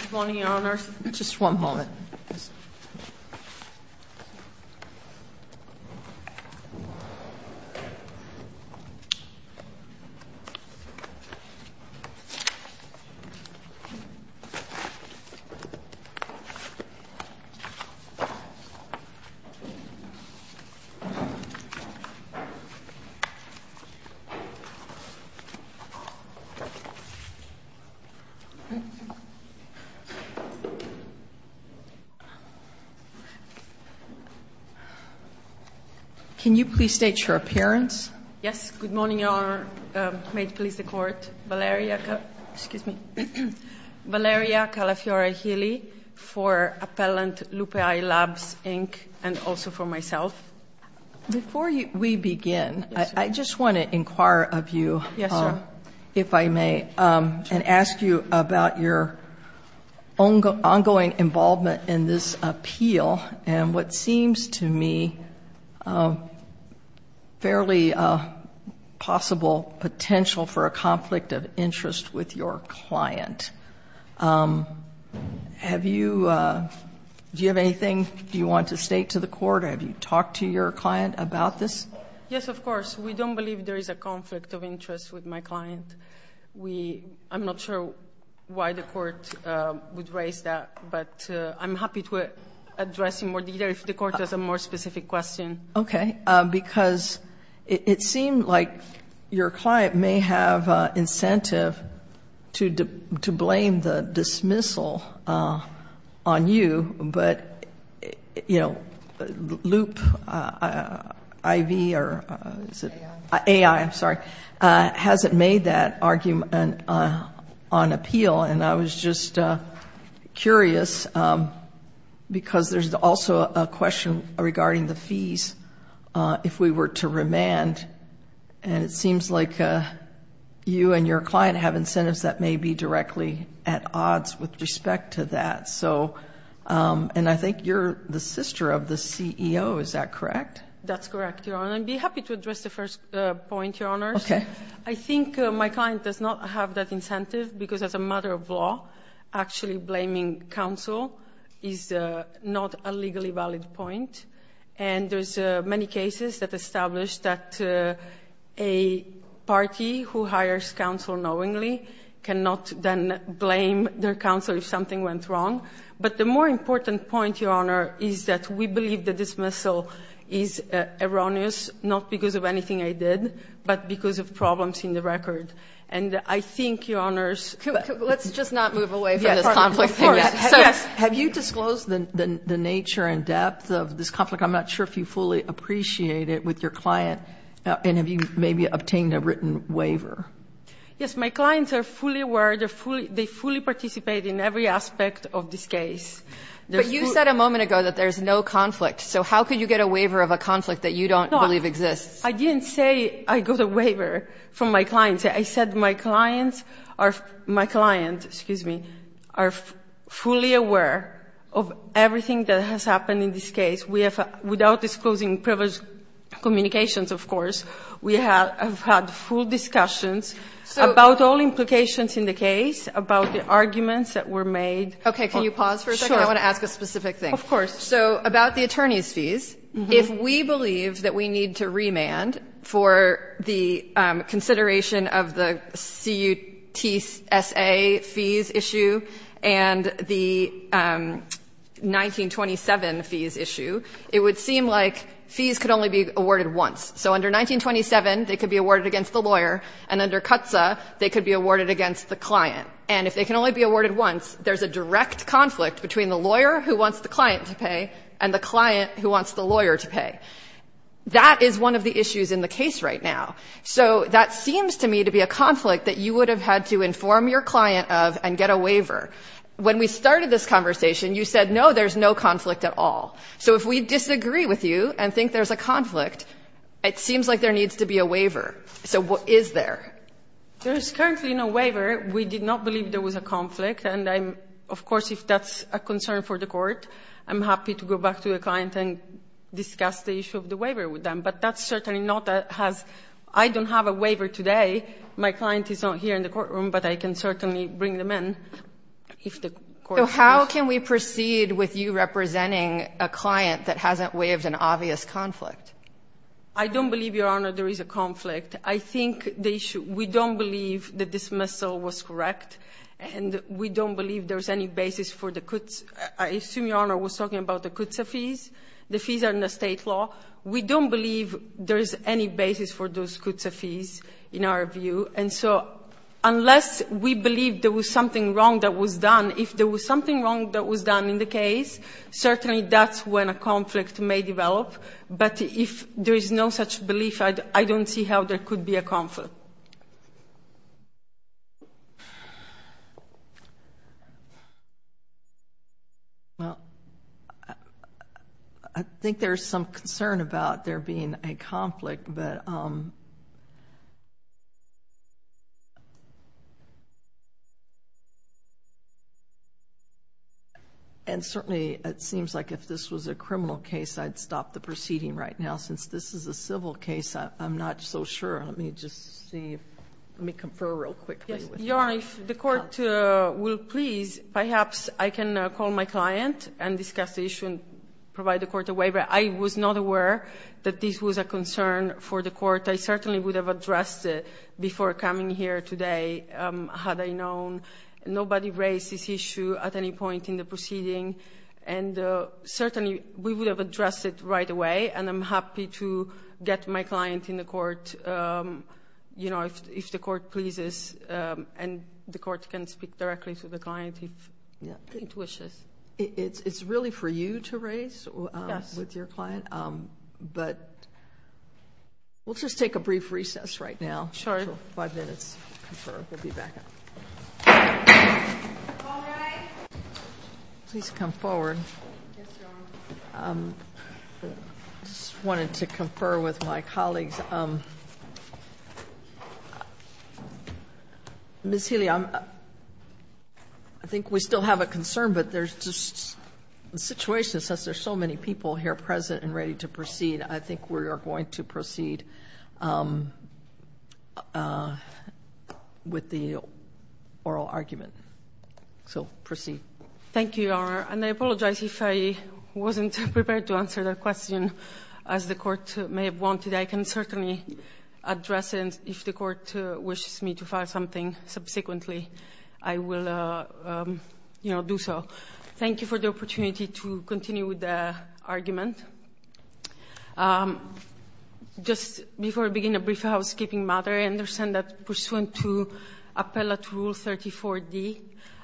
Good morning, Your Honors. Just one moment. Valeria Calafiore-Healy, for Appellant Lupe AI Labs, Inc., and also for myself. Before we begin, I just want to inquire of you, if I may, and ask you about your ongoing involvement in this appeal and what seems to me a fairly possible potential for a conflict of interest with your client. Do you have anything you want to state to the court? Have you talked to your client about this? Yes, of course. We don't believe there is a conflict of interest with my client. I'm not sure why the court would raise that, but I'm happy to address it more later if the court has a more specific question. Okay, because it seemed like your client may have incentive to blame the dismissal on you, but Lupe AI hasn't made that argument on appeal, and I was just curious because there's also a question regarding the fees if we were to remand, and it seems like you and your client have incentives that may be directly at odds with respect to that. And I think you're the sister of the CEO, is that correct? That's correct, Your Honor. I'd be happy to address the first point, Your Honors. I think my client does not have that incentive because as a matter of law, actually blaming counsel is not a legally valid point, and there's many cases that establish that a party who hires counsel knowingly cannot then blame their counsel if something went wrong. But the more important point, Your Honor, is that we believe the dismissal is erroneous, not because of anything I did, but because of problems in the record. And I think, Your Honors, Let's just not move away from this conflict. Of course. Yes. Have you disclosed the nature and depth of this conflict? I'm not sure if you fully appreciate it with your client, and have you maybe obtained a written waiver? Yes. My clients are fully aware. They fully participate in every aspect of this case. But you said a moment ago that there's no conflict. So how could you get a waiver of a conflict that you don't believe exists? I didn't say I got a waiver from my clients. I said my clients are fully aware of everything that has happened in this case. Without disclosing previous communications, of course, we have had full discussions about all implications in the case, about the arguments that were made. Okay. Can you pause for a second? Sure. I want to ask a specific thing. Of course. So about the attorney's fees, if we believe that we need to remand for the consideration of the CTSA fees issue and the 1927 fees issue, it would seem like fees could only be awarded once. So under 1927, they could be awarded against the lawyer, and under CTSA, they could be awarded against the client. And if they can only be awarded once, there's a direct conflict between the lawyer who wants the client to pay and the client who wants the lawyer to pay. That is one of the issues in the case right now. So that seems to me to be a conflict that you would have had to inform your client of and get a waiver. When we started this conversation, you said, no, there's no conflict at all. So if we disagree with you and think there's a conflict, it seems like there needs to be a waiver. So what is there? There is currently no waiver. We did not believe there was a conflict. And I'm of course, if that's a concern for the court, I'm happy to go back to the client and discuss the issue of the waiver with them. But that's certainly not a has — I don't have a waiver today. My client is not here in the courtroom, but I can certainly bring them in if the court wishes. So how can we proceed with you representing a client that hasn't waived an obvious conflict? I don't believe, Your Honor, there is a conflict. I think the issue — we don't believe the dismissal was correct, and we don't believe there's any basis for the — I assume Your Honor was talking about the CUTSA fees? The fees are in the state law. We don't believe there's any basis for those CUTSA fees in our view. And so unless we believe there was something wrong that was done, if there was something wrong that was done in the case, certainly that's when a conflict may develop. But if there is no such belief, I don't see how there could be a conflict. Well, I think there's some concern about there being a conflict. And certainly it seems like if this was a criminal case, I'd stop the proceeding right now. Since this is a civil case, I'm not so sure. Let me just see. Let me confer real quickly. Your Honor, if the court will please, perhaps I can call my client and discuss the issue and provide the court a waiver. I was not aware that this was a concern for the court. I certainly would have addressed it before coming here today had I known. Nobody raised this issue at any point in the proceeding. And certainly we would have addressed it right away. And I'm happy to get my client in the court, you know, if the court pleases. And the court can speak directly to the client if it wishes. It's really for you to raise with your client. But we'll just take a brief recess right now. Sure. Five minutes. We'll be back. All rise. Please come forward. Yes, Your Honor. I just wanted to confer with my colleagues. Ms. Healy, I think we still have a concern, but there's just a situation, since there's so many people here present and ready to proceed, I think we are going to proceed with the oral argument. So proceed. Thank you, Your Honor. And I apologize if I wasn't prepared to answer that question, as the court may have wanted. I can certainly address it if the court wishes me to file something subsequently. I will, you know, do so. Thank you for the opportunity to continue with the argument. Just before I begin, a brief housekeeping matter. I understand that pursuant to Appellate Rule 34d,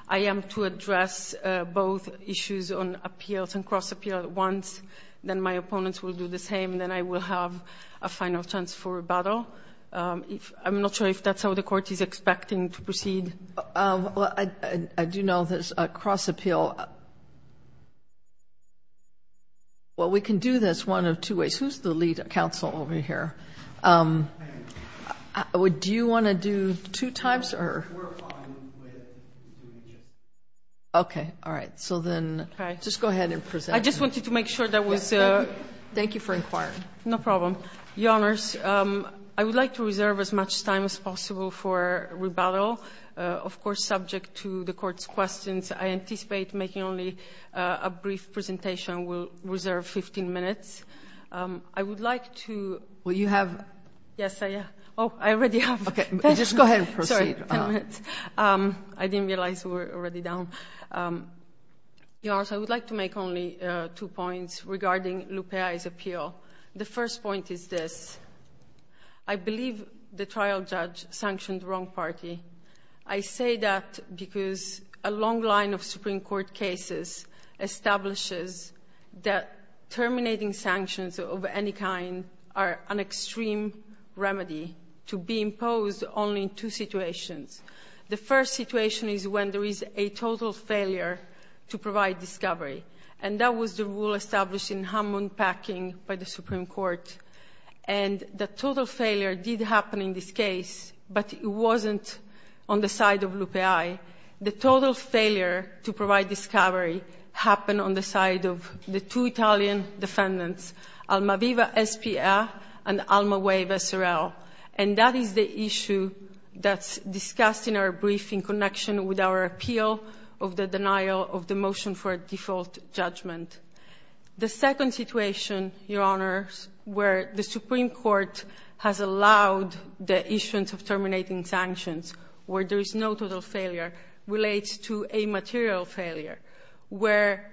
I am to address both issues on appeals and cross-appeal at once. Then my opponents will do the same. Then I will have a final chance for rebuttal. I'm not sure if that's how the court is expecting to proceed. I do know there's a cross-appeal. Well, we can do this one of two ways. Who's the lead counsel over here? Do you want to do two times or? We're fine with doing just one. Okay. All right. So then just go ahead and present. I just wanted to make sure that was. Thank you for inquiring. No problem. Your Honors, I would like to reserve as much time as possible for rebuttal. Of course, subject to the Court's questions, I anticipate making only a brief presentation. We'll reserve 15 minutes. I would like to. Well, you have. Yes, I have. Oh, I already have. Okay. Just go ahead and proceed. Sorry, 10 minutes. I didn't realize we were already down. Your Honors, I would like to make only two points regarding Lupea's appeal. The first point is this. I believe the trial judge sanctioned the wrong party. I say that because a long line of Supreme Court cases establishes that terminating sanctions of any kind are an extreme remedy to be imposed only in two situations. The first situation is when there is a total failure to provide discovery. And that was the rule established in Hammond Packing by the Supreme Court. And the total failure did happen in this case, but it wasn't on the side of Lupea. The total failure to provide discovery happened on the side of the two Italian defendants, Almaviva S.P.A. and Almaweva S.R.L. And that is the issue that's discussed in our briefing in connection with our motion for default judgment. The second situation, Your Honors, where the Supreme Court has allowed the issuance of terminating sanctions, where there is no total failure, relates to a material failure, where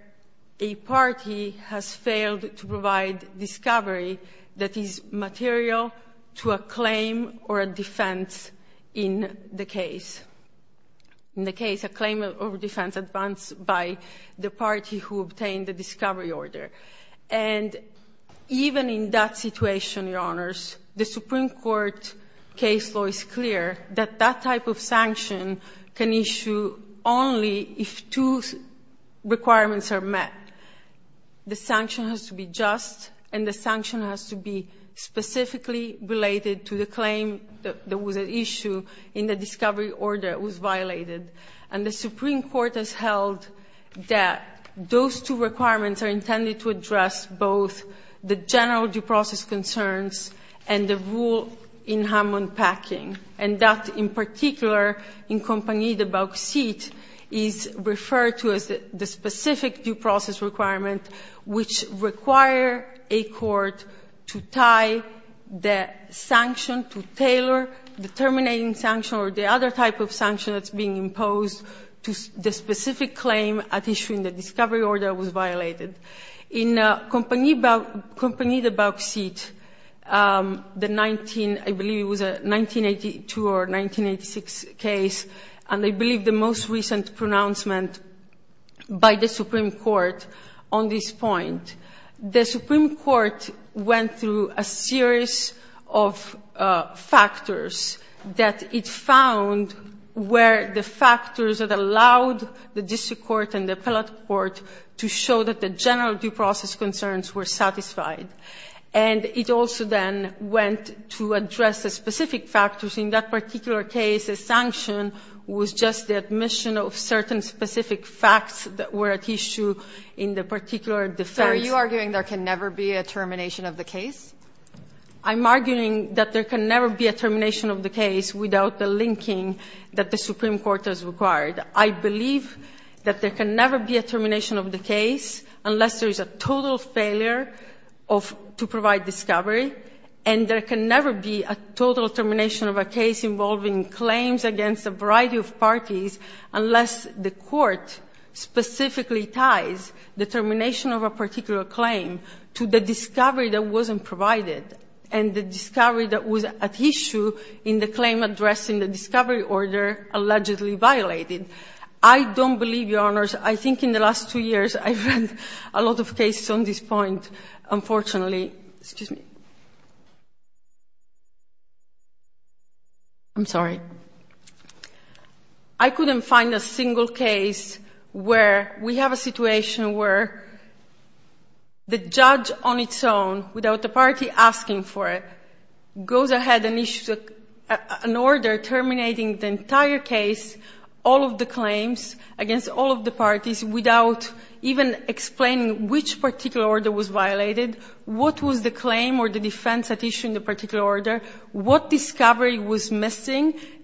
a party has failed to provide discovery that is material to a claim or a defense in the case. In the case, a claim or a defense advanced by the party who obtained the discovery order. And even in that situation, Your Honors, the Supreme Court case law is clear that that type of sanction can issue only if two requirements are met. The sanction has to be just and the sanction has to be specifically related to the issue in the discovery order that was violated. And the Supreme Court has held that those two requirements are intended to address both the general due process concerns and the rule in Hammond Packing. And that, in particular, in Compagnie de Bauxite, is referred to as the specific due process requirement, which require a court to tie the sanction to tailor the terminating sanction or the other type of sanction that's being imposed to the specific claim at issue in the discovery order that was violated. In Compagnie de Bauxite, the 19, I believe it was a 1982 or 1986 case, and I believe the most recent pronouncement by the Supreme Court on this point, the Supreme Court, that it found where the factors that allowed the district court and the appellate court to show that the general due process concerns were satisfied. And it also then went to address the specific factors in that particular case. The sanction was just the admission of certain specific facts that were at issue in the particular defense. Kagan. So are you arguing there can never be a termination of the case? I'm arguing that there can never be a termination of the case without the linking that the Supreme Court has required. I believe that there can never be a termination of the case unless there is a total failure of to provide discovery, and there can never be a total termination of a case involving claims against a variety of parties unless the court specifically ties the termination of a particular claim to the discovery that wasn't provided and the discovery that was at issue in the claim addressing the discovery order allegedly violated. I don't believe, Your Honors. I think in the last two years I've read a lot of cases on this point, unfortunately. Excuse me. I'm sorry. I couldn't find a single case where we have a situation where the judge on its own without the party asking for it goes ahead and issues an order terminating the entire case, all of the claims against all of the parties without even explaining which particular order was violated, what was the claim or the defense at issue in the discovery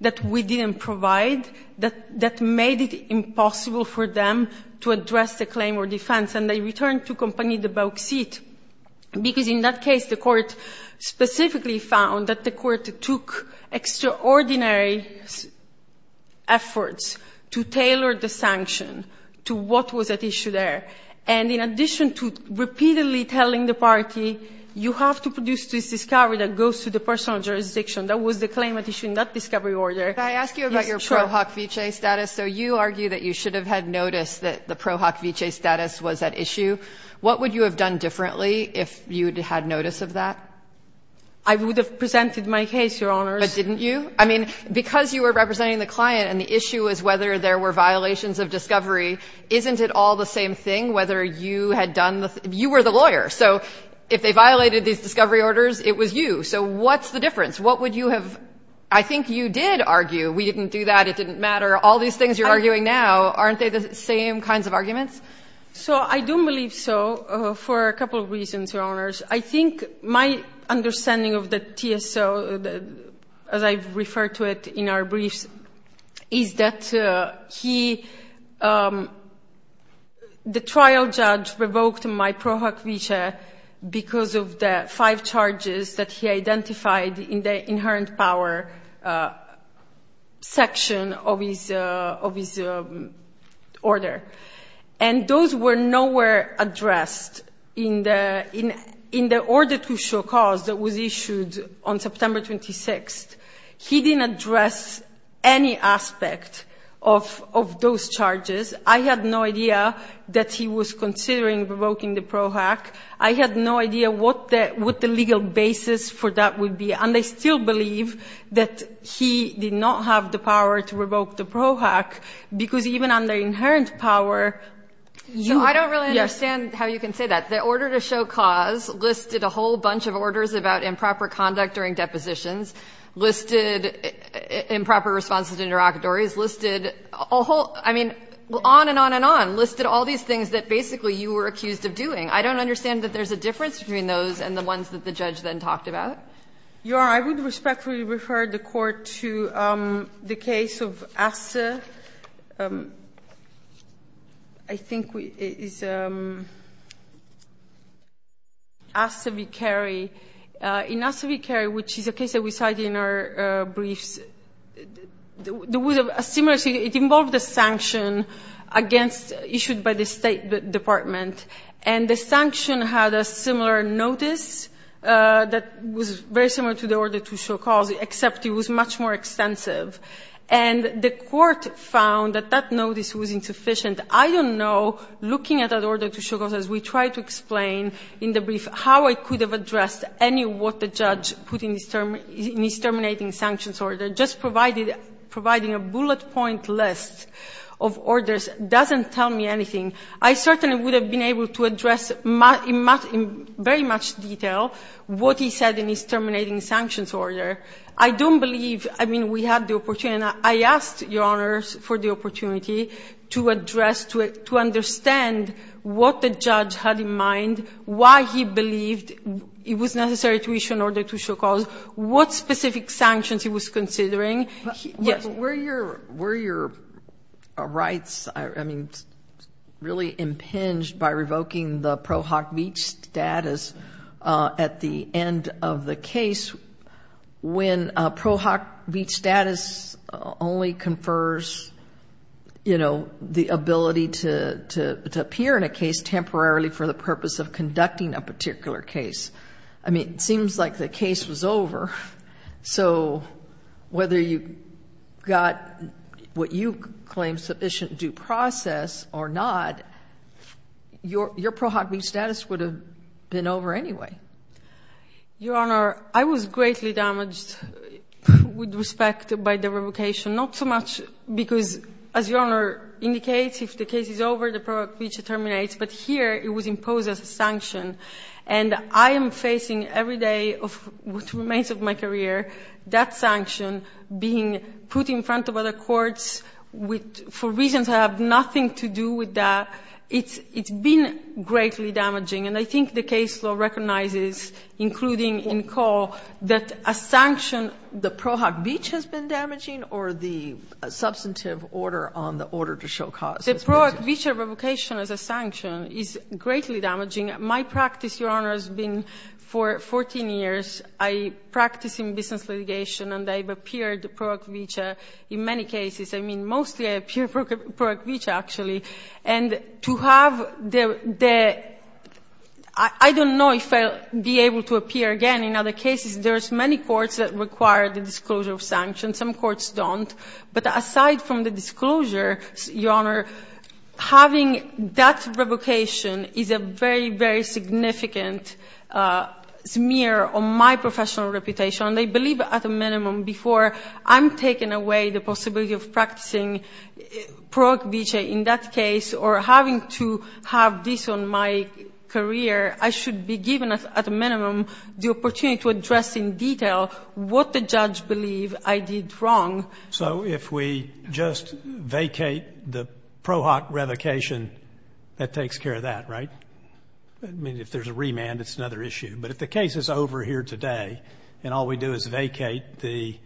that we didn't provide that made it impossible for them to address the claim or defense. And they returned to compagnie de bauxite because in that case the court specifically found that the court took extraordinary efforts to tailor the sanction to what was at issue there. And in addition to repeatedly telling the party, you have to produce this discovery that goes to the personal jurisdiction. That was the claim at issue in that discovery order. Yes, sure. I ask you about your Pro Hoc Vitae status. So you argue that you should have had noticed that the Pro Hoc Vitae status was at issue. What would you have done differently if you'd had notice of that? I would have presented my case, Your Honors. But didn't you? I mean, because you were representing the client and the issue was whether there were violations of discovery, isn't it all the same thing whether you had done the thing? You were the lawyer. So if they violated these discovery orders, it was you. So what's the difference? What would you have? I think you did argue we didn't do that. It didn't matter. All these things you're arguing now, aren't they the same kinds of arguments? So I don't believe so for a couple of reasons, Your Honors. I think my understanding of the TSO, as I've referred to it in our briefs, is that he, the trial judge revoked my Pro Hoc Vitae because of the five charges that he identified in the inherent power section of his order. And those were nowhere addressed in the order to show cause that was issued on September 26th. He didn't address any aspect of those charges. I had no idea that he was considering revoking the Pro Hoc. I had no idea what the legal basis for that would be. And I still believe that he did not have the power to revoke the Pro Hoc, because even under inherent power, you, yes. So I don't really understand how you can say that. The order to show cause listed a whole bunch of orders about improper conduct during depositions, listed improper responses to interlocutories, listed a whole I mean, on and on and on. Listed all these things that basically you were accused of doing. I don't understand that there's a difference between those and the ones that the judge then talked about. You're right. I would respectfully refer the Court to the case of Assa. I think it's Assa v. Carey. In Assa v. Carey, which is a case that we cited in our briefs, there was a similarity It involved a sanction against, issued by the State Department. And the sanction had a similar notice that was very similar to the order to show cause, except it was much more extensive. And the Court found that that notice was insufficient. I don't know, looking at that order to show cause, as we tried to explain in the brief, how it could have addressed any of what the judge put in his terminating sanctions order, just providing a bullet point list of orders doesn't tell me anything. I certainly would have been able to address in very much detail what he said in his terminating sanctions order. I don't believe, I mean, we had the opportunity. I asked Your Honors for the opportunity to address, to understand what the judge had in mind, why he believed it was necessary to issue an order to show cause, what specific sanctions he was considering. Yes. Were your rights, I mean, really impinged by revoking the ProHoc Beach status at the end of the case when ProHoc Beach status only confers, you know, the ability to appear in a case temporarily for the purpose of conducting a particular case? I mean, it seems like the case was over. So whether you got what you claim sufficient due process or not, your ProHoc Beach status would have been over anyway. Your Honor, I was greatly damaged with respect by the revocation, not so much because as Your Honor indicates, if the case is over, the ProHoc Beach terminates, but here it was imposed as a sanction. And I am facing every day of what remains of my career that sanction being put in front of other courts for reasons that have nothing to do with that. It's been greatly damaging. And I think the case law recognizes, including in Cole, that a sanction. The ProHoc Beach has been damaging or the substantive order on the order to show cause? The ProHoc Beach revocation as a sanction is greatly damaging. My practice, Your Honor, has been for 14 years. I practice in business litigation and I've appeared ProHoc Beach in many cases. I mean, mostly I appear ProHoc Beach, actually. And to have the – I don't know if I'll be able to appear again in other cases. There's many courts that require the disclosure of sanctions. Some courts don't. But aside from the disclosure, Your Honor, having that revocation is a very, very significant smear on my professional reputation. And I believe at a minimum before I'm taking away the possibility of practicing ProHoc Beach in that case or having to have this on my career, I should be given at a minimum the opportunity to address in detail what the judge believes I did wrong. So if we just vacate the ProHoc revocation, that takes care of that, right? I mean, if there's a remand, it's another issue. But if the case is over here today and all we do is vacate the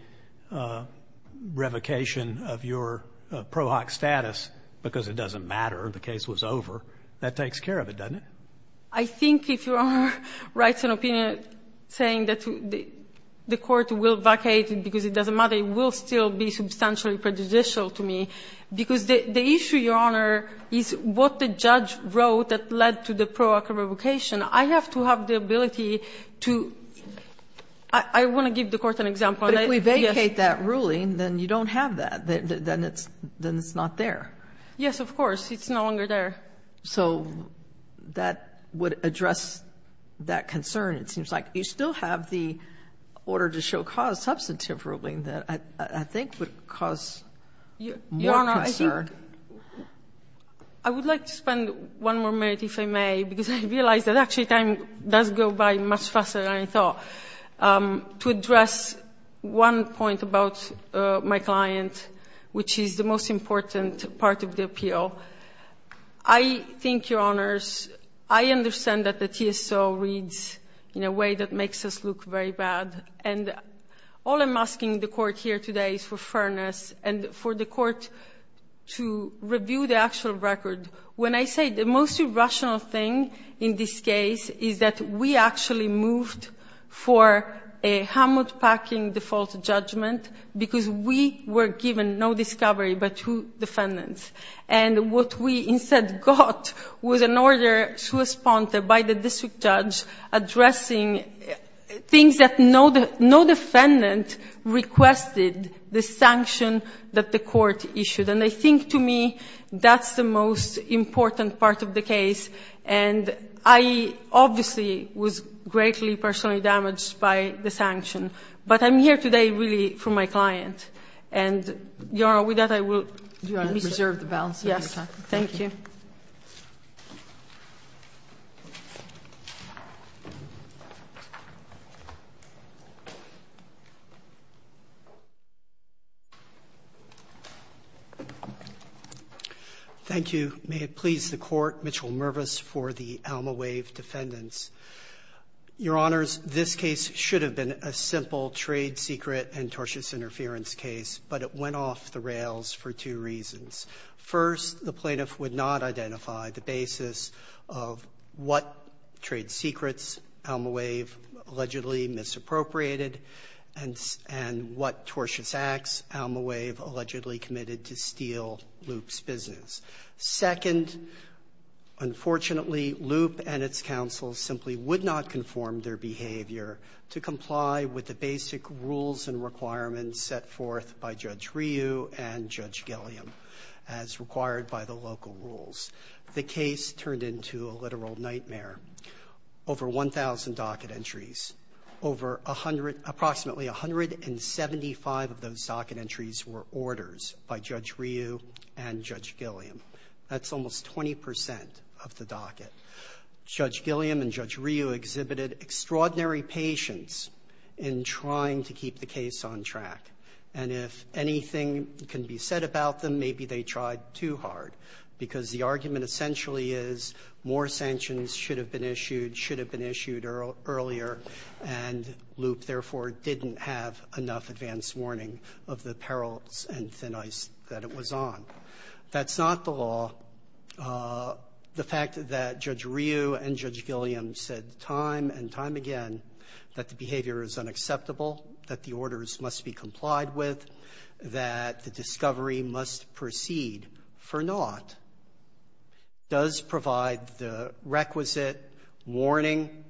revocation of your ProHoc status because it doesn't matter, the case was over, that takes care of it, doesn't it? I think if Your Honor writes an opinion saying that the court will vacate it because it doesn't matter, it will still be substantially prejudicial to me. Because the issue, Your Honor, is what the judge wrote that led to the ProHoc revocation. I have to have the ability to – I want to give the Court an example. And I think, yes. Kagan, if we vacate that ruling, then you don't have that. Then it's not there. Yes, of course. It's no longer there. So that would address that concern, it seems like. You still have the order to show cause substantive ruling that I think would cause more concern. Your Honor, I would like to spend one more minute, if I may, because I realize that actually time does go by much faster than I thought, to address one point about my client, which is the most important part of the appeal. I think, Your Honors, I understand that the TSO reads in a way that makes us look very bad. And all I'm asking the Court here today is for fairness and for the Court to review the actual record. When I say the most irrational thing in this case is that we actually moved for a hammock-packing default judgment because we were given no discovery but two defendants. And what we instead got was an order to respond by the district judge addressing things that no defendant requested, the sanction that the Court issued. And I think to me that's the most important part of the case. And I obviously was greatly personally damaged by the sanction. But I'm here today really for my client. And, Your Honor, with that, I will reserve the balance of my time. Thank you. Thank you. May it please the Court, Mitchell Mervis for the Alma Wave defendants. Your Honors, this case should have been a simple trade secret and tortious interference case, but it went off the rails for two reasons. First, the plaintiff would not identify the basis of what trade secrets Alma Wave allegedly misappropriated and what tortious acts Alma Wave allegedly committed to steal Loop's business. Second, unfortunately, Loop and its counsels simply would not conform their behavior to comply with the basic rules and requirements set forth by Judge Ryu and Judge Gilliam as required by the local rules. The case turned into a literal nightmare. Over 1,000 docket entries, over approximately 175 of those docket entries were orders by Judge Ryu and Judge Gilliam. That's almost 20 percent of the docket. Judge Gilliam and Judge Ryu exhibited extraordinary patience in trying to keep the case on track. And if anything can be said about them, maybe they tried too hard, because the argument essentially is more sanctions should have been issued, should have been issued earlier, and Loop, therefore, didn't have enough advance warning of the perils and thin ice that it was on. That's not the law. The fact that Judge Ryu and Judge Gilliam said time and time again that the behavior is unacceptable, that the orders must be complied with, that the discovery must proceed for naught, does provide the requisite warning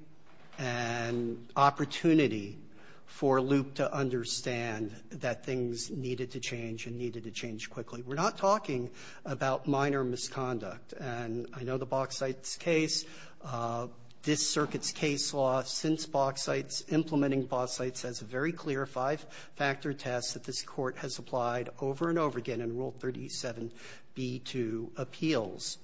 and opportunity for Loop to understand that things needed to change and needed to change quickly. We're not talking about minor misconduct. And I know the Bauxites case, this Circuit's case law since Bauxites, implementing Bauxites has a very clear five-factor test that this Court has applied over and over again in Rule 37b2 appeals.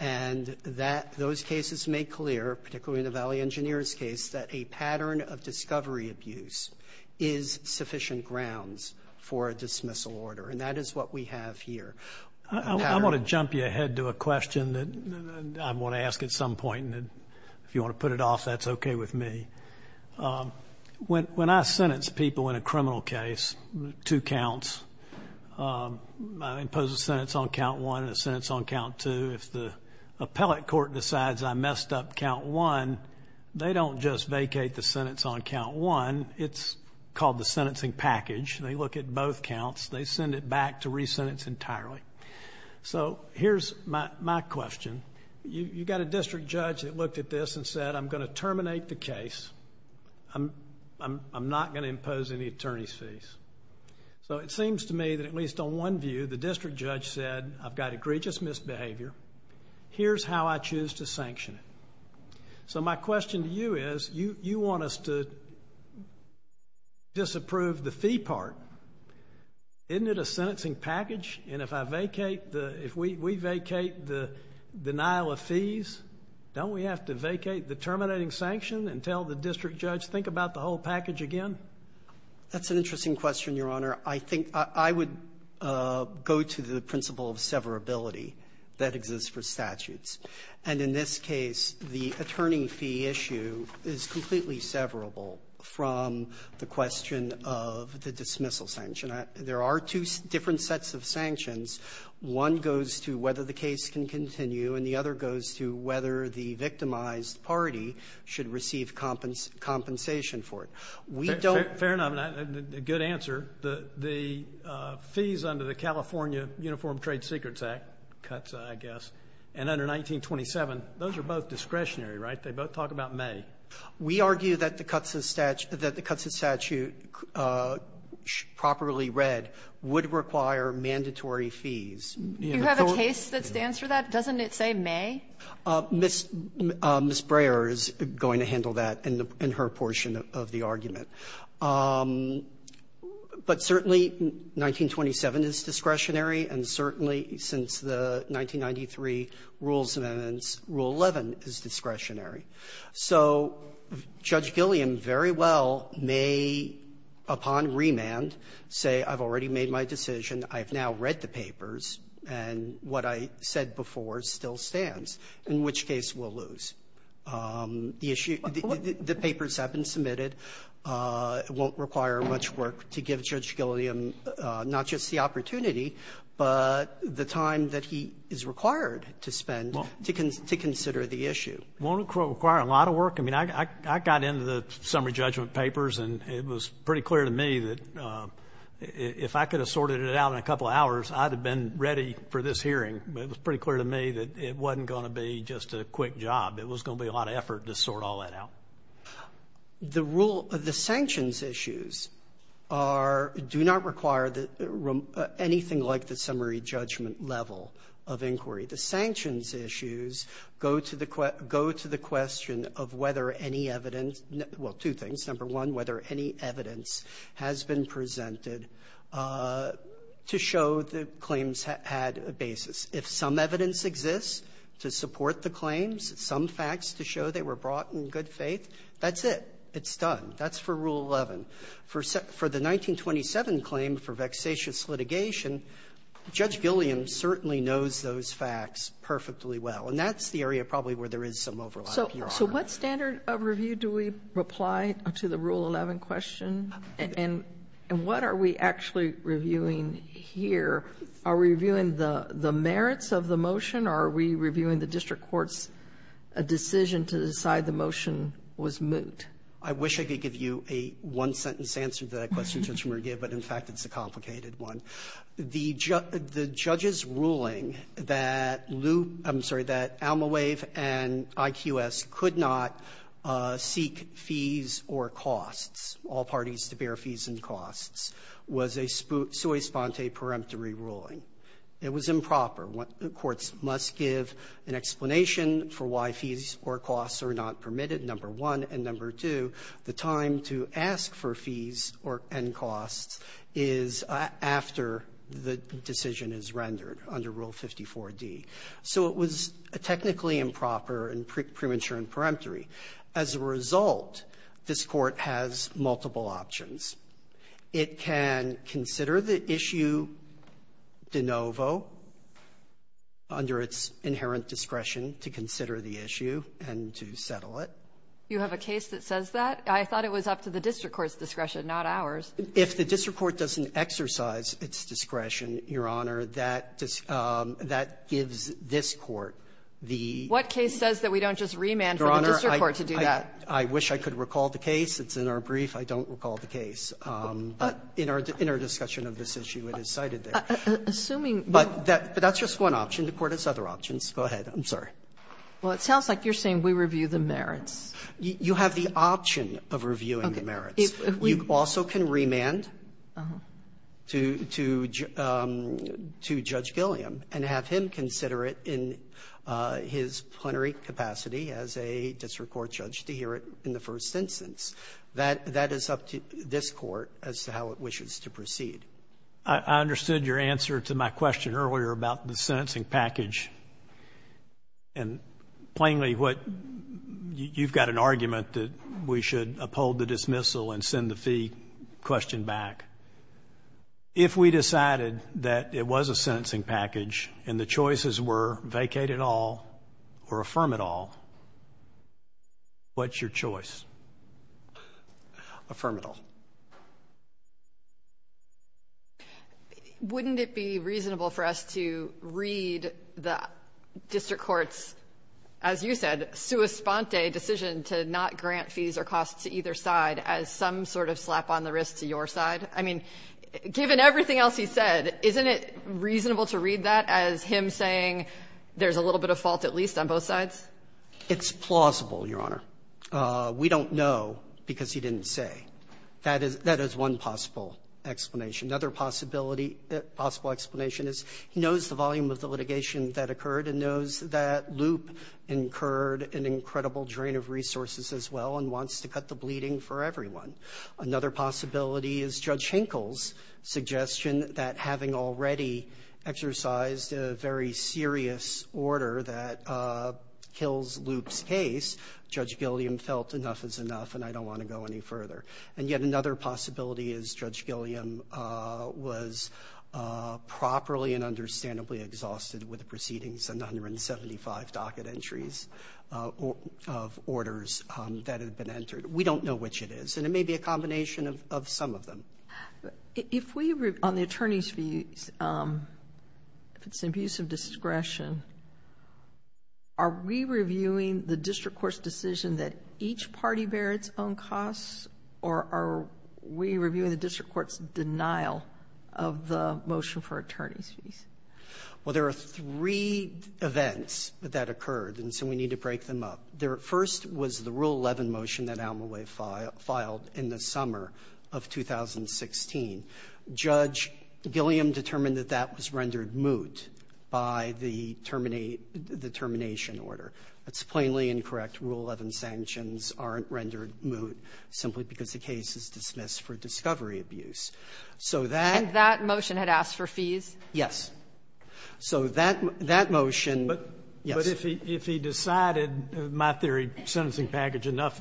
And that those cases make clear, particularly in the Valley Engineers case, that a pattern of discovery abuse is sufficient grounds for a dismissal order. And that is what we have here. I want to jump you ahead to a question that I want to ask at some point, and if you want to put it off, that's okay with me. When I sentence people in a criminal case, two counts, I impose a sentence on count one and a sentence on count two. If the appellate court decides I messed up count one, they don't just vacate the sentence on count one. It's called the sentencing package. They look at both counts. They send it back to re-sentence entirely. So here's my question. You got a district judge that looked at this and said, I'm going to terminate the case. I'm not going to impose any attorney's fees. So it seems to me that at least on one view, the district judge said, I've got egregious misbehavior. Here's how I choose to sanction it. So my question to you is, you want us to disapprove the fee part. Isn't it a sentencing package? And if we vacate the denial of fees, don't we have to vacate the terminating sanction and tell the district judge, think about the whole package again? That's an interesting question, Your Honor. I would go to the principle of severability that exists for statutes. And in this case, the attorney fee issue is completely severable from the question of the dismissal sanction. There are two different sets of sanctions. One goes to whether the case can continue, and the other goes to whether the victimized party should receive compensation for it. We don't ---- Fair enough. Good answer. The fees under the California Uniform Trade Secrets Act cuts, I guess, and under 1927, those are both discretionary, right? They both talk about may. We argue that the cuts of statute properly read would require mandatory fees. You have a case that stands for that? Doesn't it say may? Ms. Breyer is going to handle that in her portion of the argument. But certainly 1927 is discretionary, and certainly since the 1993 Rules Amendments, Rule 11 is discretionary. So Judge Gilliam very well may, upon remand, say I've already made my decision, I've now read the papers, and what I said before still stands, in which case we'll lose. The papers have been submitted. It won't require much work to give Judge Gilliam not just the opportunity, but the time that he is required to spend to consider the issue. It won't require a lot of work. I mean, I got into the summary judgment papers, and it was pretty clear to me that if I could have sorted it out in a couple of hours, I'd have been ready for this hearing. It was pretty clear to me that it wasn't going to be just a quick job. It was going to be a lot of effort to sort all that out. The rule of the sanctions issues do not require anything like the summary judgment level of inquiry. The sanctions issues go to the question of whether any evidence – well, two things. Number one, whether any evidence has been presented to show that claims had a basis. If some evidence exists to support the claims, some facts to show they were brought in good faith, that's it. It's done. That's for Rule 11. For the 1927 claim for vexatious litigation, Judge Gilliam certainly knows those facts perfectly well, and that's the area probably where there is some overlap, Your Honor. So what standard of review do we apply to the Rule 11 question, and what are we actually reviewing here? Are we reviewing the merits of the motion, or are we reviewing the district court's decision to decide the motion was moot? I wish I could give you a one-sentence answer to that question, Judge Merguez, but, in fact, it's a complicated one. The judge's ruling that loop – I'm sorry, that Alma Wave and IQS could not seek fees or costs, all parties to bear fees and costs, was a sui sponte peremptory ruling. It was improper. Courts must give an explanation for why fees or costs are not permitted, number one, and, number two, the time to ask for fees and costs is after the decision is rendered under Rule 54d. So it was technically improper and premature and peremptory. As a result, this Court has multiple options. It can consider the issue de novo under its inherent discretion to consider the issue and to settle it. You have a case that says that? I thought it was up to the district court's discretion, not ours. If the district court doesn't exercise its discretion, Your Honor, that gives this court the – What case says that we don't just remand for the district court to do that? Your Honor, I wish I could recall the case. It's in our brief. I don't recall the case. But in our discussion of this issue, it is cited there. Assuming – But that's just one option. The Court has other options. Go ahead. I'm sorry. Well, it sounds like you're saying we review the merits. You have the option of reviewing the merits. Okay. You also can remand to Judge Gilliam and have him consider it in his plenary capacity as a district court judge to hear it in the first instance. That is up to this Court as to how it wishes to proceed. I understood your answer to my question earlier about the sentencing package. And plainly what – you've got an argument that we should uphold the dismissal and send the fee question back. If we decided that it was a sentencing package and the choices were vacate it all or affirm it all, what's your choice? Affirm it all. Wouldn't it be reasonable for us to read the district court's, as you said, sua sponte decision to not grant fees or costs to either side as some sort of slap on the wrist to your side? I mean, given everything else he said, isn't it reasonable to read that as him saying there's a little bit of fault at least on both sides? It's plausible, Your Honor. We don't know because he didn't say. That is one possible explanation. Another possibility – possible explanation is he knows the volume of the litigation that occurred and knows that Loop incurred an incredible drain of resources as well and wants to cut the bleeding for everyone. Another possibility is Judge Hinkle's suggestion that having already exercised a very serious order that kills Loop's case, Judge Gilliam felt enough is enough and I don't want to go any further. And yet another possibility is Judge Gilliam was properly and understandably exhausted with the proceedings and 175 docket entries of orders that had been entered. We don't know which it is and it may be a combination of some of them. If we – on the attorney's fees, if it's an abuse of discretion, are we reviewing the district court's decision that each party bear its own costs or are we reviewing the district court's denial of the motion for attorney's fees? Well, there are three events that occurred and so we need to break them up. The first was the Rule 11 motion that Almaway filed in the summer of 2016. Judge Gilliam determined that that was rendered moot by the termination order. That's plainly incorrect. Rule 11 sanctions aren't rendered moot simply because the case is dismissed for discovery abuse. So that – And that motion had asked for fees? Yes. So that motion – yes. But if he decided, in my theory, sentencing package enough,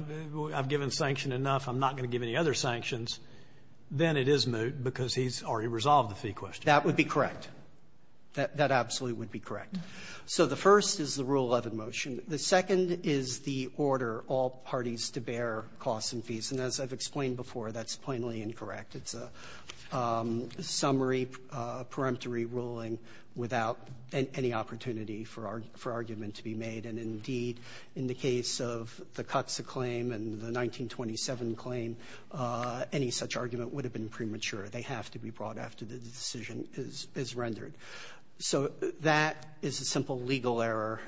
I've given sanction enough, I'm not going to give any other sanctions, then it is moot because he's already resolved the fee question. That would be correct. That absolutely would be correct. So the first is the Rule 11 motion. The second is the order all parties to bear costs and fees. And as I've explained before, that's plainly incorrect. It's a summary, peremptory ruling without any opportunity for argument to be made. And indeed, in the case of the Cuxa claim and the 1927 claim, any such argument would have been premature. They have to be brought after the decision is rendered. So that is a simple legal error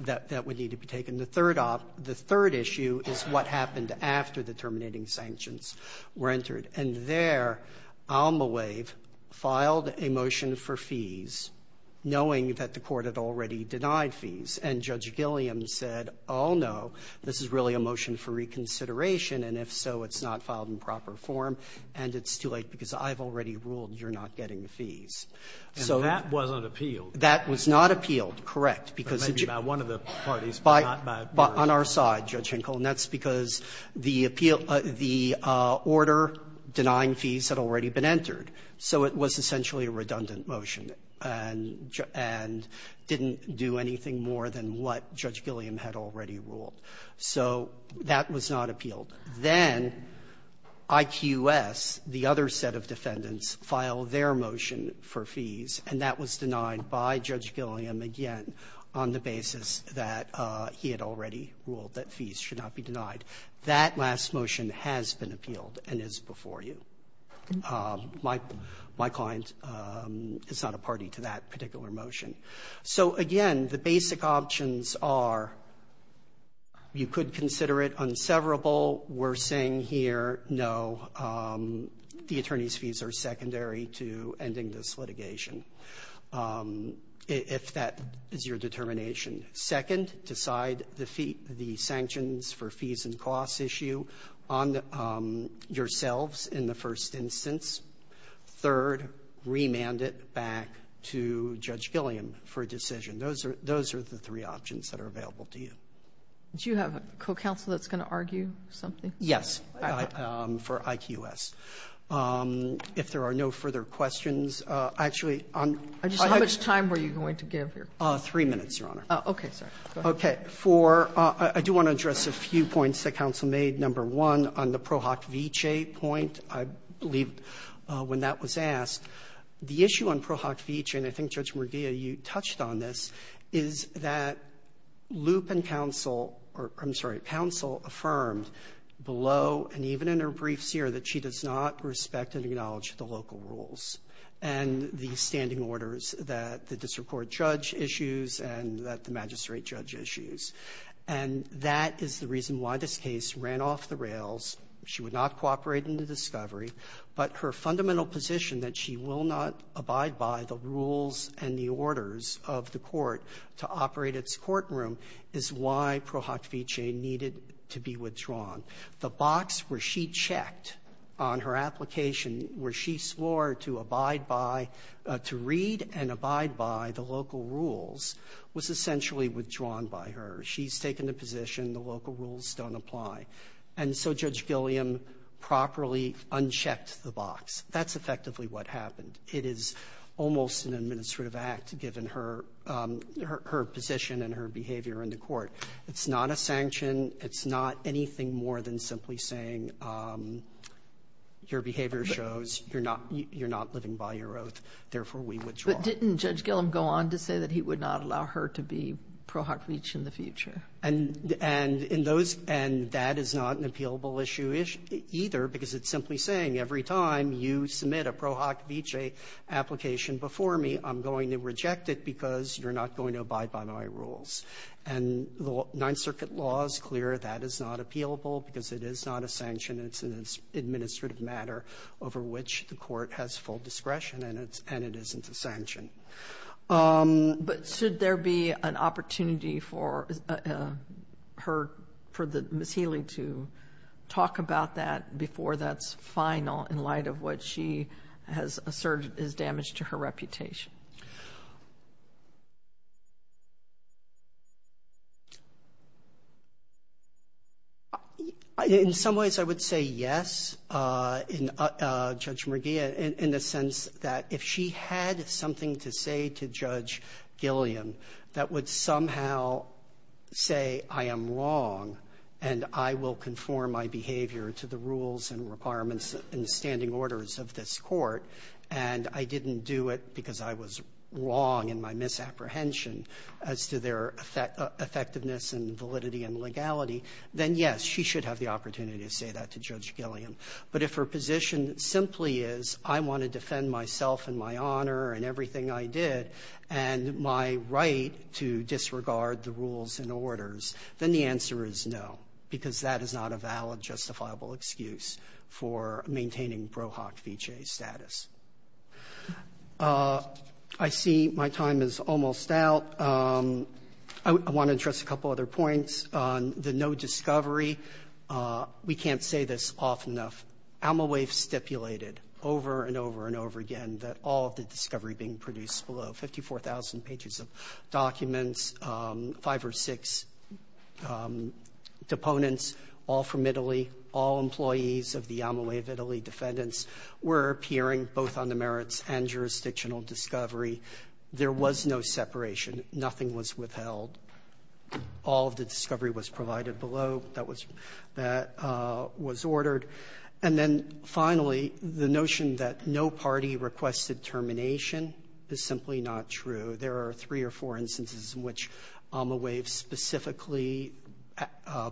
that would need to be taken. The third issue is what happened after the terminating sanctions were entered. And there Almaway filed a motion for fees, knowing that the Court had already denied fees. And Judge Gilliam said, oh, no, this is really a motion for reconsideration. And if so, it's not filed in proper form, and it's too late because I've already ruled you're not getting the fees. So that wasn't appealed. That was not appealed, correct, because it's just by one of the parties, but not by one of the parties. On our side, Judge Hinkle, and that's because the appeal – the order denying fees had already been entered, so it was essentially a redundant motion and didn't do anything more than what Judge Gilliam had already ruled. So that was not appealed. Then IQS, the other set of defendants, filed their motion for fees, and that was denied by Judge Gilliam again on the basis that he had already ruled that fees should not be denied. That last motion has been appealed and is before you. My client is not a party to that particular motion. So, again, the basic options are you could consider it unseverable. We're saying here, no, the attorney's fees are secondary to ending this litigation if that is your determination. Second, decide the sanctions for fees and costs issue on yourselves in the first instance. Third, remand it back to Judge Gilliam for a decision. Those are the three options that are available to you. Do you have a co-counsel that's going to argue something? Yes, for IQS. If there are no further questions. Actually, on my question. How much time were you going to give here? Three minutes, Your Honor. Okay. Okay. I do want to address a few points that counsel made. Number one, on the Pro Hoc Vitae point, I believe when that was asked, the issue on Pro Hoc Vitae, and I think, Judge Merdia, you touched on this, is that Loop and acknowledge the local rules and the standing orders that the district court judge issues and that the magistrate judge issues. And that is the reason why this case ran off the rails. She would not cooperate in the discovery. But her fundamental position that she will not abide by the rules and the orders of the court to operate its courtroom is why Pro Hoc Vitae needed to be withdrawn. The box where she checked on her application where she swore to abide by, to read and abide by the local rules was essentially withdrawn by her. She's taken the position the local rules don't apply. And so Judge Gilliam properly unchecked the box. That's effectively what happened. It is almost an administrative act given her position and her behavior in the court. It's not a sanction. It's not anything more than simply saying your behavior shows you're not living by your oath, therefore, we withdraw. But didn't Judge Gilliam go on to say that he would not allow her to be Pro Hoc Vitae in the future? And in those end, that is not an appealable issue either because it's simply saying every time you submit a Pro Hoc Vitae application before me, I'm going to reject it because you're not going to abide by my rules. And the Ninth Circuit law is clear that is not appealable because it is not a sanction. It's an administrative matter over which the court has full discretion and it isn't a sanction. But should there be an opportunity for her, for Ms. Healy to talk about that before that's final in light of what she has asserted is damage to her reputation? In some ways, I would say yes, Judge McGee, in the sense that if she had something to say to Judge Gilliam that would somehow say I am wrong and I will conform my behavior to the rules and requirements and standing orders of this court and I didn't do it because I was wrong in my misapprehension as to their effectiveness and validity and legality, then yes, she should have the opportunity to say that to Judge Gilliam. But if her position simply is I want to defend myself and my honor and everything I did and my right to disregard the rules and orders, then the answer is no, because that is not a valid justifiable excuse for maintaining ProHoc V.J. status. I see my time is almost out. I want to address a couple other points on the no discovery. We can't say this often enough. Alma Wave stipulated over and over and over again that all of the discovery being produced below, 54,000 pages of documents, five or six deponents all from Italy, all employees of the Alma Wave Italy defendants were appearing both on the merits and jurisdictional discovery. There was no separation. Nothing was withheld. All of the discovery was provided below that was ordered. And then finally, the notion that no party requested termination is simply not true. There are three or four instances in which Alma Wave specifically,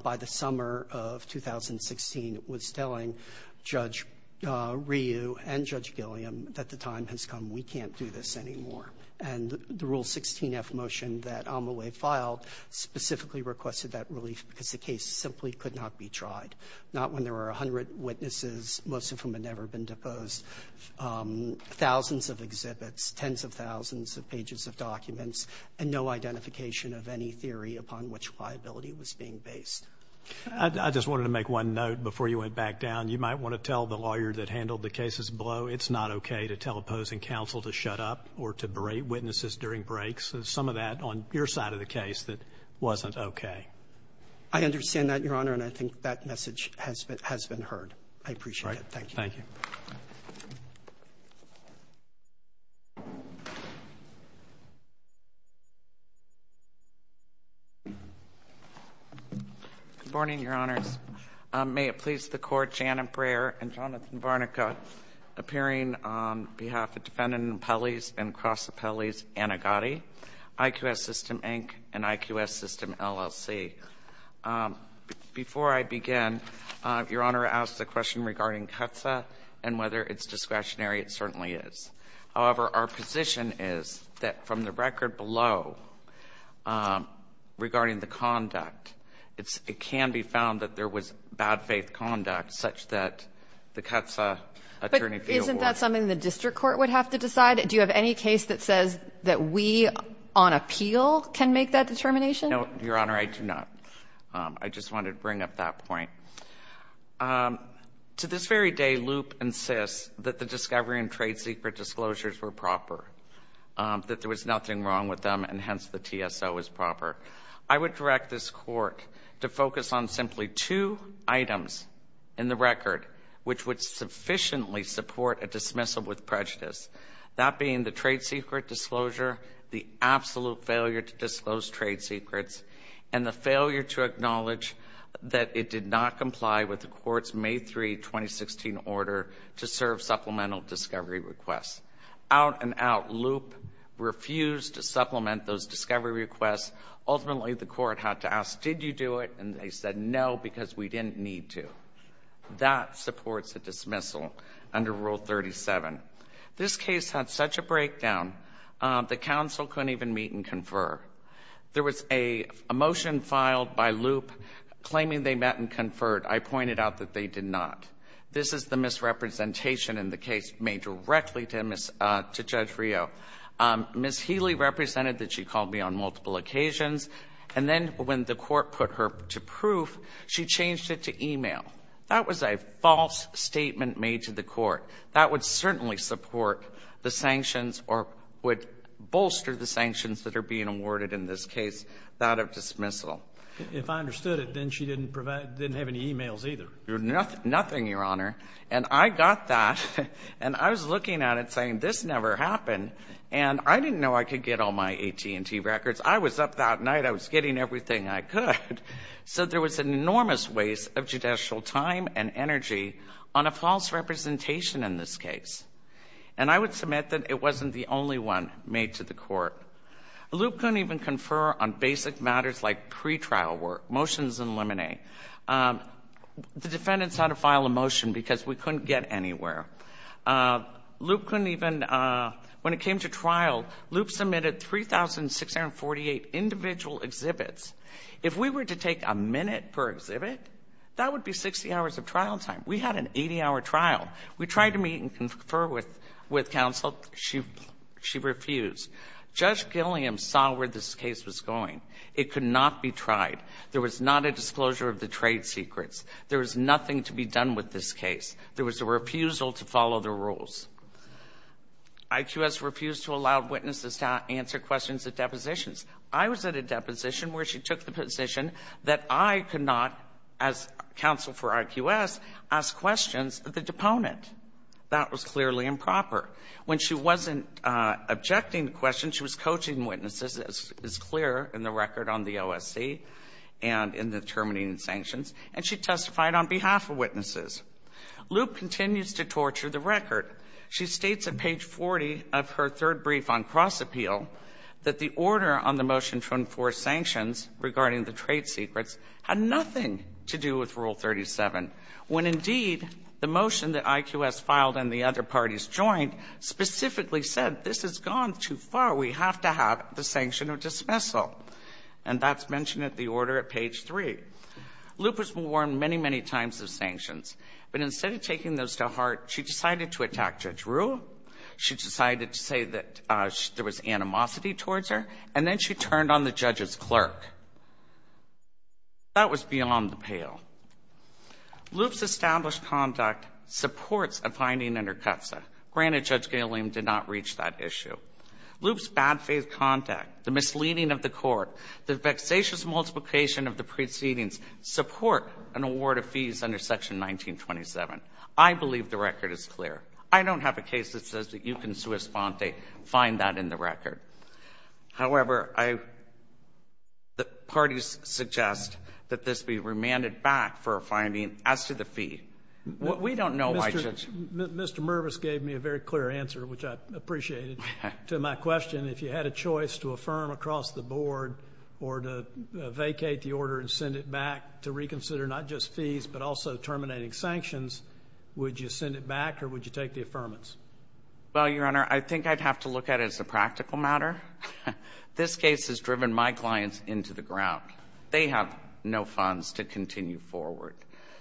by the summer of 2016, was telling Judge Ryu and Judge Gilliam that the time has come. We can't do this anymore. And the Rule 16-F motion that Alma Wave filed specifically requested that relief because the case simply could not be tried, not when there were a hundred witnesses, most of whom had never been deposed, thousands of exhibits, tens of thousands of pages of documents, and no identification of any theory upon which liability was being based. I just wanted to make one note before you went back down. You might want to tell the lawyer that handled the cases below it's not okay to tell opposing counsel to shut up or to berate witnesses during breaks. There's some of that on your side of the case that wasn't okay. I understand that, Your Honor, and I think that message has been heard. I appreciate it. Thank you. Thank you. Good morning, Your Honors. May it please the Court, Janet Breyer and Jonathan Varnica, appearing on behalf of Defendant Appellees and Cross Appellees Annegotti, IQS System Inc. and IQS System LLC. Before I begin, Your Honor asked a question regarding CUTSA and whether it's discretionary. It certainly is. However, our position is that from the record below regarding the conduct, it can be found that there was bad faith conduct such that the CUTSA attorney field the TSO field, and the TSO field is a district court. I'm not sure that that's something the district court would have to decide. Do you have any case that says that we, on appeal, can make that determination? No, Your Honor, I do not. I just wanted to bring up that point. To this very day, Loup insists that the discovery and trade secret disclosures were proper. That there was nothing wrong with them, and hence the TSO is proper. I would direct this court to focus on simply two items in the record which would sufficiently support a dismissal with prejudice. That being the trade secret disclosure, the absolute failure to disclose trade secrets, and the failure to acknowledge that it did not comply with the court's May 3, 2016 order to serve supplemental discovery requests. Out and out, Loup refused to supplement those discovery requests. Ultimately, the court had to ask, did you do it? And they said, no, because we didn't need to. That supports a dismissal under Rule 37. This case had such a breakdown, the counsel couldn't even meet and confer. There was a motion filed by Loup claiming they met and conferred. I pointed out that they did not. This is the misrepresentation in the case made directly to Judge Rio. Ms. Healy represented that she called me on multiple occasions. And then when the court put her to proof, she changed it to e-mail. That was a false statement made to the court. That would certainly support the sanctions or would bolster the sanctions that are being awarded in this case, that of dismissal. If I understood it, then she didn't have any e-mails either. Nothing, Your Honor. And I got that, and I was looking at it saying, this never happened. And I didn't know I could get all my AT&T records. I was up that night. I was getting everything I could. So there was an enormous waste of judicial time and energy on a false representation in this case. And I would submit that it wasn't the only one made to the court. Loup couldn't even confer on basic matters like pretrial work, motions and limine. The defendants had to file a motion because we couldn't get anywhere. Loup couldn't even, when it came to trial, Loup submitted 3,648 individual exhibits. If we were to take a minute per exhibit, that would be 60 hours of trial time. We had an 80-hour trial. We tried to meet and confer with counsel. She refused. Judge Gilliam saw where this case was going. It could not be tried. There was not a disclosure of the trade secrets. There was nothing to be done with this case. There was a refusal to follow the rules. IQS refused to allow witnesses to answer questions at depositions. I was at a deposition where she took the position that I could not, as counsel for IQS, ask questions of the deponent. That was clearly improper. When she wasn't objecting the question, she was coaching witnesses, as is clear in the record on the OSC and in the terminating sanctions, and she testified on behalf of witnesses. Loup continues to torture the record. She states at page 40 of her third brief on cross-appeal that the order on the motion to enforce sanctions regarding the trade secrets had nothing to do with Rule 37, when indeed the motion that IQS filed and the other parties joined specifically said this has gone too far. We have to have the sanction of dismissal. And that's mentioned at the order at page 3. Loup was warned many, many times of sanctions. But instead of taking those to heart, she decided to attack Judge Ruh. She decided to say that there was animosity towards her, and then she turned on the judge's clerk. That was beyond the pale. Loup's established conduct supports a finding in her CAFSA. Granted, Judge Galeem did not reach that issue. Loup's bad faith contact, the misleading of the court, the vexatious multiplication of the proceedings support an award of fees under Section 1927. I believe the record is clear. I don't have a case that says that you can sua sponte, find that in the record. However, the parties suggest that this be remanded back for a finding as to the fee. Mr. Mervis gave me a very clear answer, which I appreciated, to my question. If you had a choice to affirm across the board or to vacate the order and send it back to reconsider not just fees but also terminating sanctions, would you send it back or would you take the affirmance? Well, Your Honor, I think I'd have to look at it as a practical matter. This case has driven my clients into the ground. They have no funds to continue forward.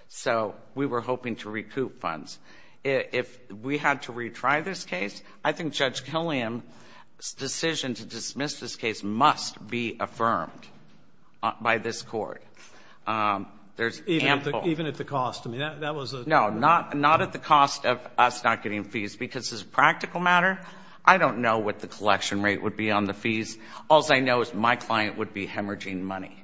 So we were hoping to recoup funds. If we had to retry this case, I think Judge Galeem's decision to dismiss this case must be affirmed by this Court. Even at the cost? No, not at the cost of us not getting fees because as a practical matter, I don't know what the collection rate would be on the fees. All I know is my client would be hemorrhaging money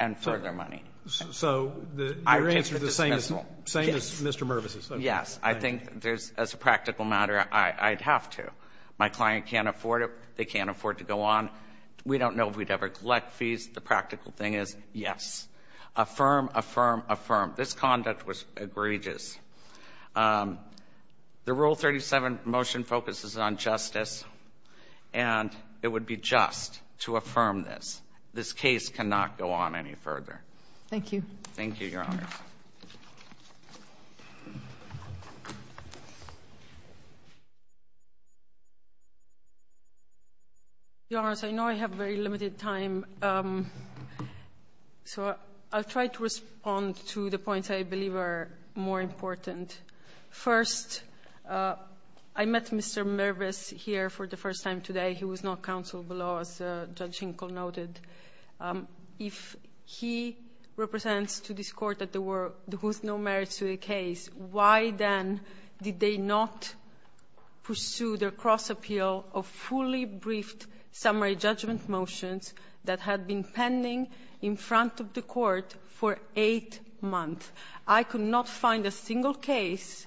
and further money. So your answer is the same as Mr. Mervis's? Yes. I think as a practical matter, I'd have to. My client can't afford it. They can't afford to go on. We don't know if we'd ever collect fees. The practical thing is yes. Affirm, affirm, affirm. This conduct was egregious. The Rule 37 motion focuses on justice, and it would be just to affirm this. This case cannot go on any further. Thank you. Thank you, Your Honors. Your Honors, I know I have very limited time, so I'll try to respond to the points I believe are more important. First, I met Mr. Mervis here for the first time today. He was not counsel below, as Judge Hinkle noted. If he represents to this Court that there was no merits to the case, why then did they not pursue their cross-appeal of fully briefed summary judgment motions that had been pending in front of the Court for eight months? I could not find a single case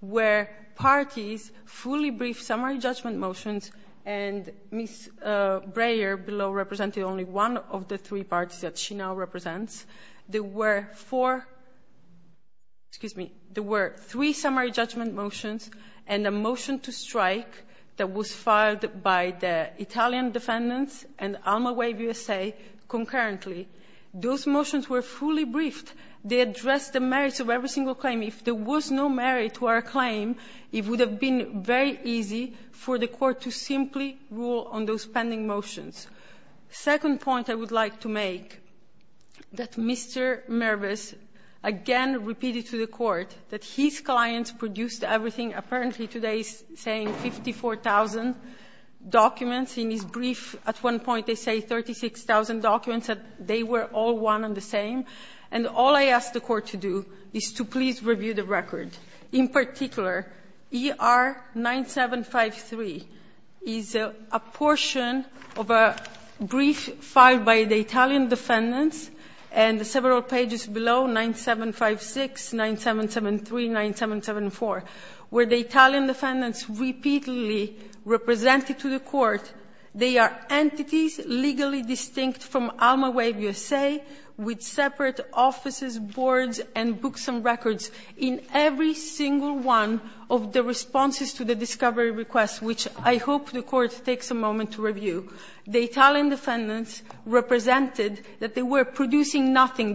where parties fully briefed summary judgment motions and Ms. Breyer below represented only one of the three parties that she now represents. There were four — excuse me. There were three summary judgment motions and a motion to strike that was filed by the Italian defendants and Alma Wave USA concurrently. Those motions were fully briefed. They addressed the merits of every single claim. If there was no merit to our claim, it would have been very easy for the Court to simply rule on those pending motions. Second point I would like to make, that Mr. Mervis again repeated to the Court that his clients produced everything, apparently today saying 54,000 documents. In his brief, at one point they say 36,000 documents. They were all one and the same. And all I ask the Court to do is to please review the record. In particular, ER 9753 is a portion of a brief filed by the Italian defendants and several pages below, 9756, 9773, 9774, where the Italian defendants repeatedly represented to the Court they are entities legally distinct from Alma Wave USA with separate offices, boards, and books and records in every single one of the responses to the discovery request, which I hope the Court takes a moment to review. The Italian defendants represented that they were producing nothing.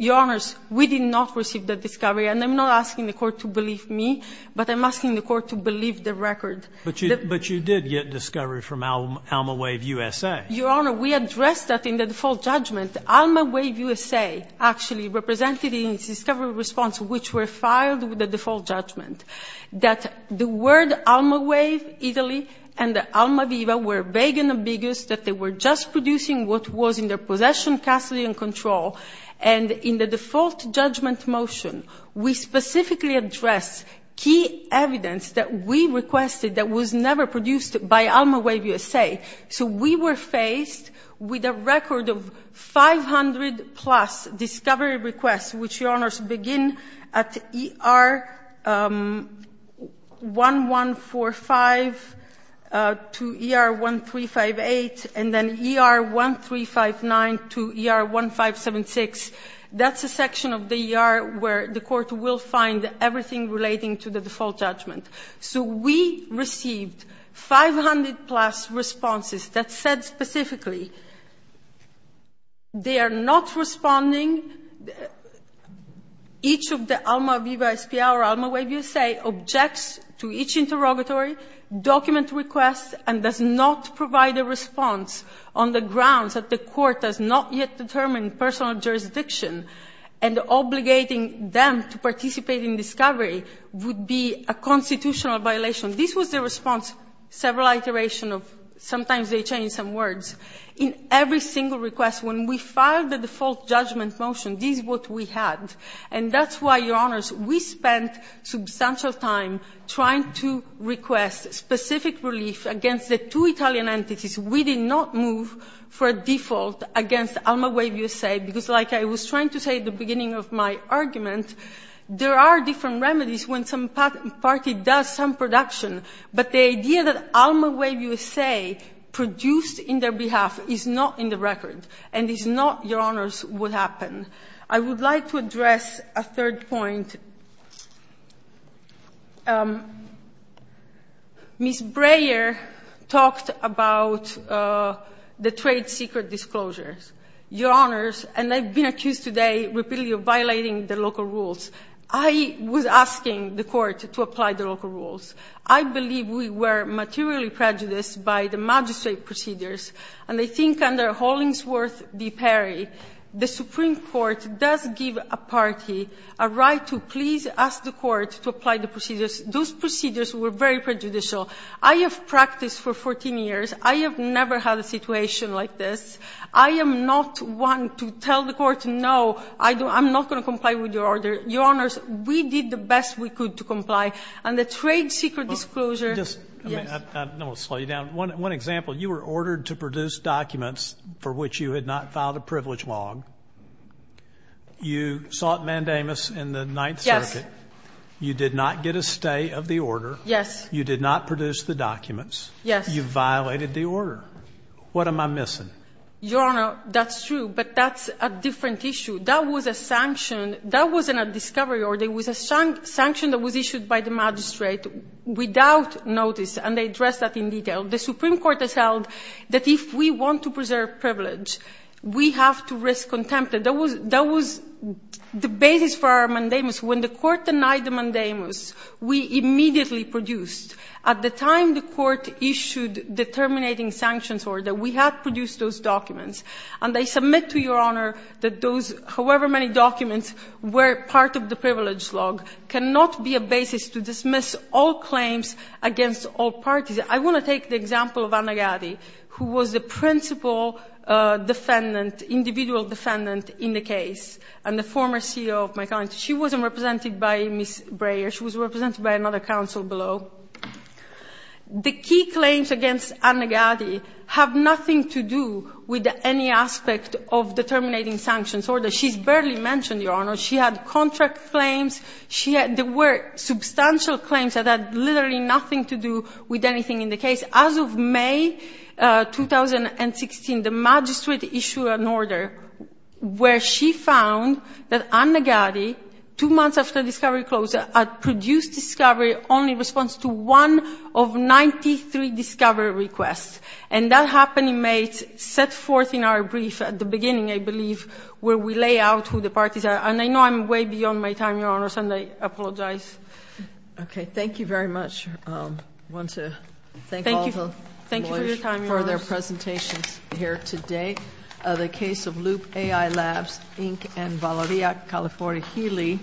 Your Honors, we did not receive that discovery. And I'm not asking the Court to believe me, but I'm asking the Court to believe the record. But you did get discovery from Alma Wave USA. Your Honor, we addressed that in the default judgment. Alma Wave USA actually represented in its discovery response, which were filed with the default judgment, that the word Alma Wave Italy and Alma Viva were vague and ambiguous, that they were just producing what was in their possession, custody, and control. And in the default judgment motion, we specifically addressed key evidence that we requested that was never produced by Alma Wave USA. So we were faced with a record of 500-plus discovery requests, which, Your Honors, begin at ER-1145 to ER-1358, and then ER-1359 to ER-1576. That's a section of the ER where the Court will find everything relating to the default judgment. So we received 500-plus responses that said specifically, they are not responding. Each of the Alma Viva SPA or Alma Wave USA objects to each interrogatory, document requests, and does not provide a response on the grounds that the Court has not yet determined personal jurisdiction. And obligating them to participate in discovery would be a constitutional violation. This was the response, several iteration of, sometimes they change some words, in every single request. When we filed the default judgment motion, this is what we had. And that's why, Your Honors, we spent substantial time trying to request specific relief against the two Italian entities. We did not move for a default against Alma Wave USA because, like I was trying to say at the beginning of my argument, there are different remedies when some party does some production. But the idea that Alma Wave USA produced in their behalf is not in the record and is not, Your Honors, what happened. I would like to address a third point. Ms. Breyer talked about the trade secret disclosures. Your Honors, and I've been accused today repeatedly of violating the local rules. I was asking the Court to apply the local rules. I believe we were materially prejudiced by the magistrate procedures. And I think under Hollingsworth v. Perry, the Supreme Court does give a party a right to please ask the Court to apply the procedures. Those procedures were very prejudicial. I have practiced for 14 years. I have never had a situation like this. I am not one to tell the Court, no, I'm not going to comply with your order. Your Honors, we did the best we could to comply. And the trade secret disclosure, yes. I don't want to slow you down. One example. You were ordered to produce documents for which you had not filed a privilege log. You sought mandamus in the Ninth Circuit. Yes. You did not get a stay of the order. Yes. You did not produce the documents. Yes. You violated the order. What am I missing? Your Honor, that's true, but that's a different issue. That was a sanction. That wasn't a discovery order. It was a sanction that was issued by the magistrate without notice, and they addressed that in detail. The Supreme Court has held that if we want to preserve privilege, we have to risk contempt. That was the basis for our mandamus. When the Court denied the mandamus, we immediately produced, at the time the Court issued the terminating sanctions order, we had produced those documents. And I submit to Your Honor that those however many documents were part of the privilege log cannot be a basis to dismiss all claims against all parties. I want to take the example of Anna Gatti, who was the principal defendant, individual defendant in the case, and the former CEO of my country. She wasn't represented by Ms. Breyer. She was represented by another counsel below. The key claims against Anna Gatti have nothing to do with any aspect of the terminating sanctions order. She's barely mentioned, Your Honor. She had contract claims. There were substantial claims that had literally nothing to do with anything in the case. As of May 2016, the magistrate issued an order where she found that Anna Gatti, two months after the discovery was closed, had produced discovery only in response to one of 93 discovery requests. And that happened in May, set forth in our brief at the beginning, I believe, where we lay out who the parties are. And I know I'm way beyond my time, Your Honor, and I apologize. Okay. Thank you very much. I want to thank all the lawyers for their presentations here today. The case of Loop AI Labs, Inc. and Valeria California Healy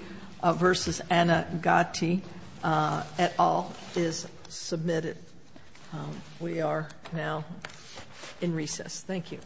v. Anna Gatti et al. is submitted. We are now in recess. Thank you.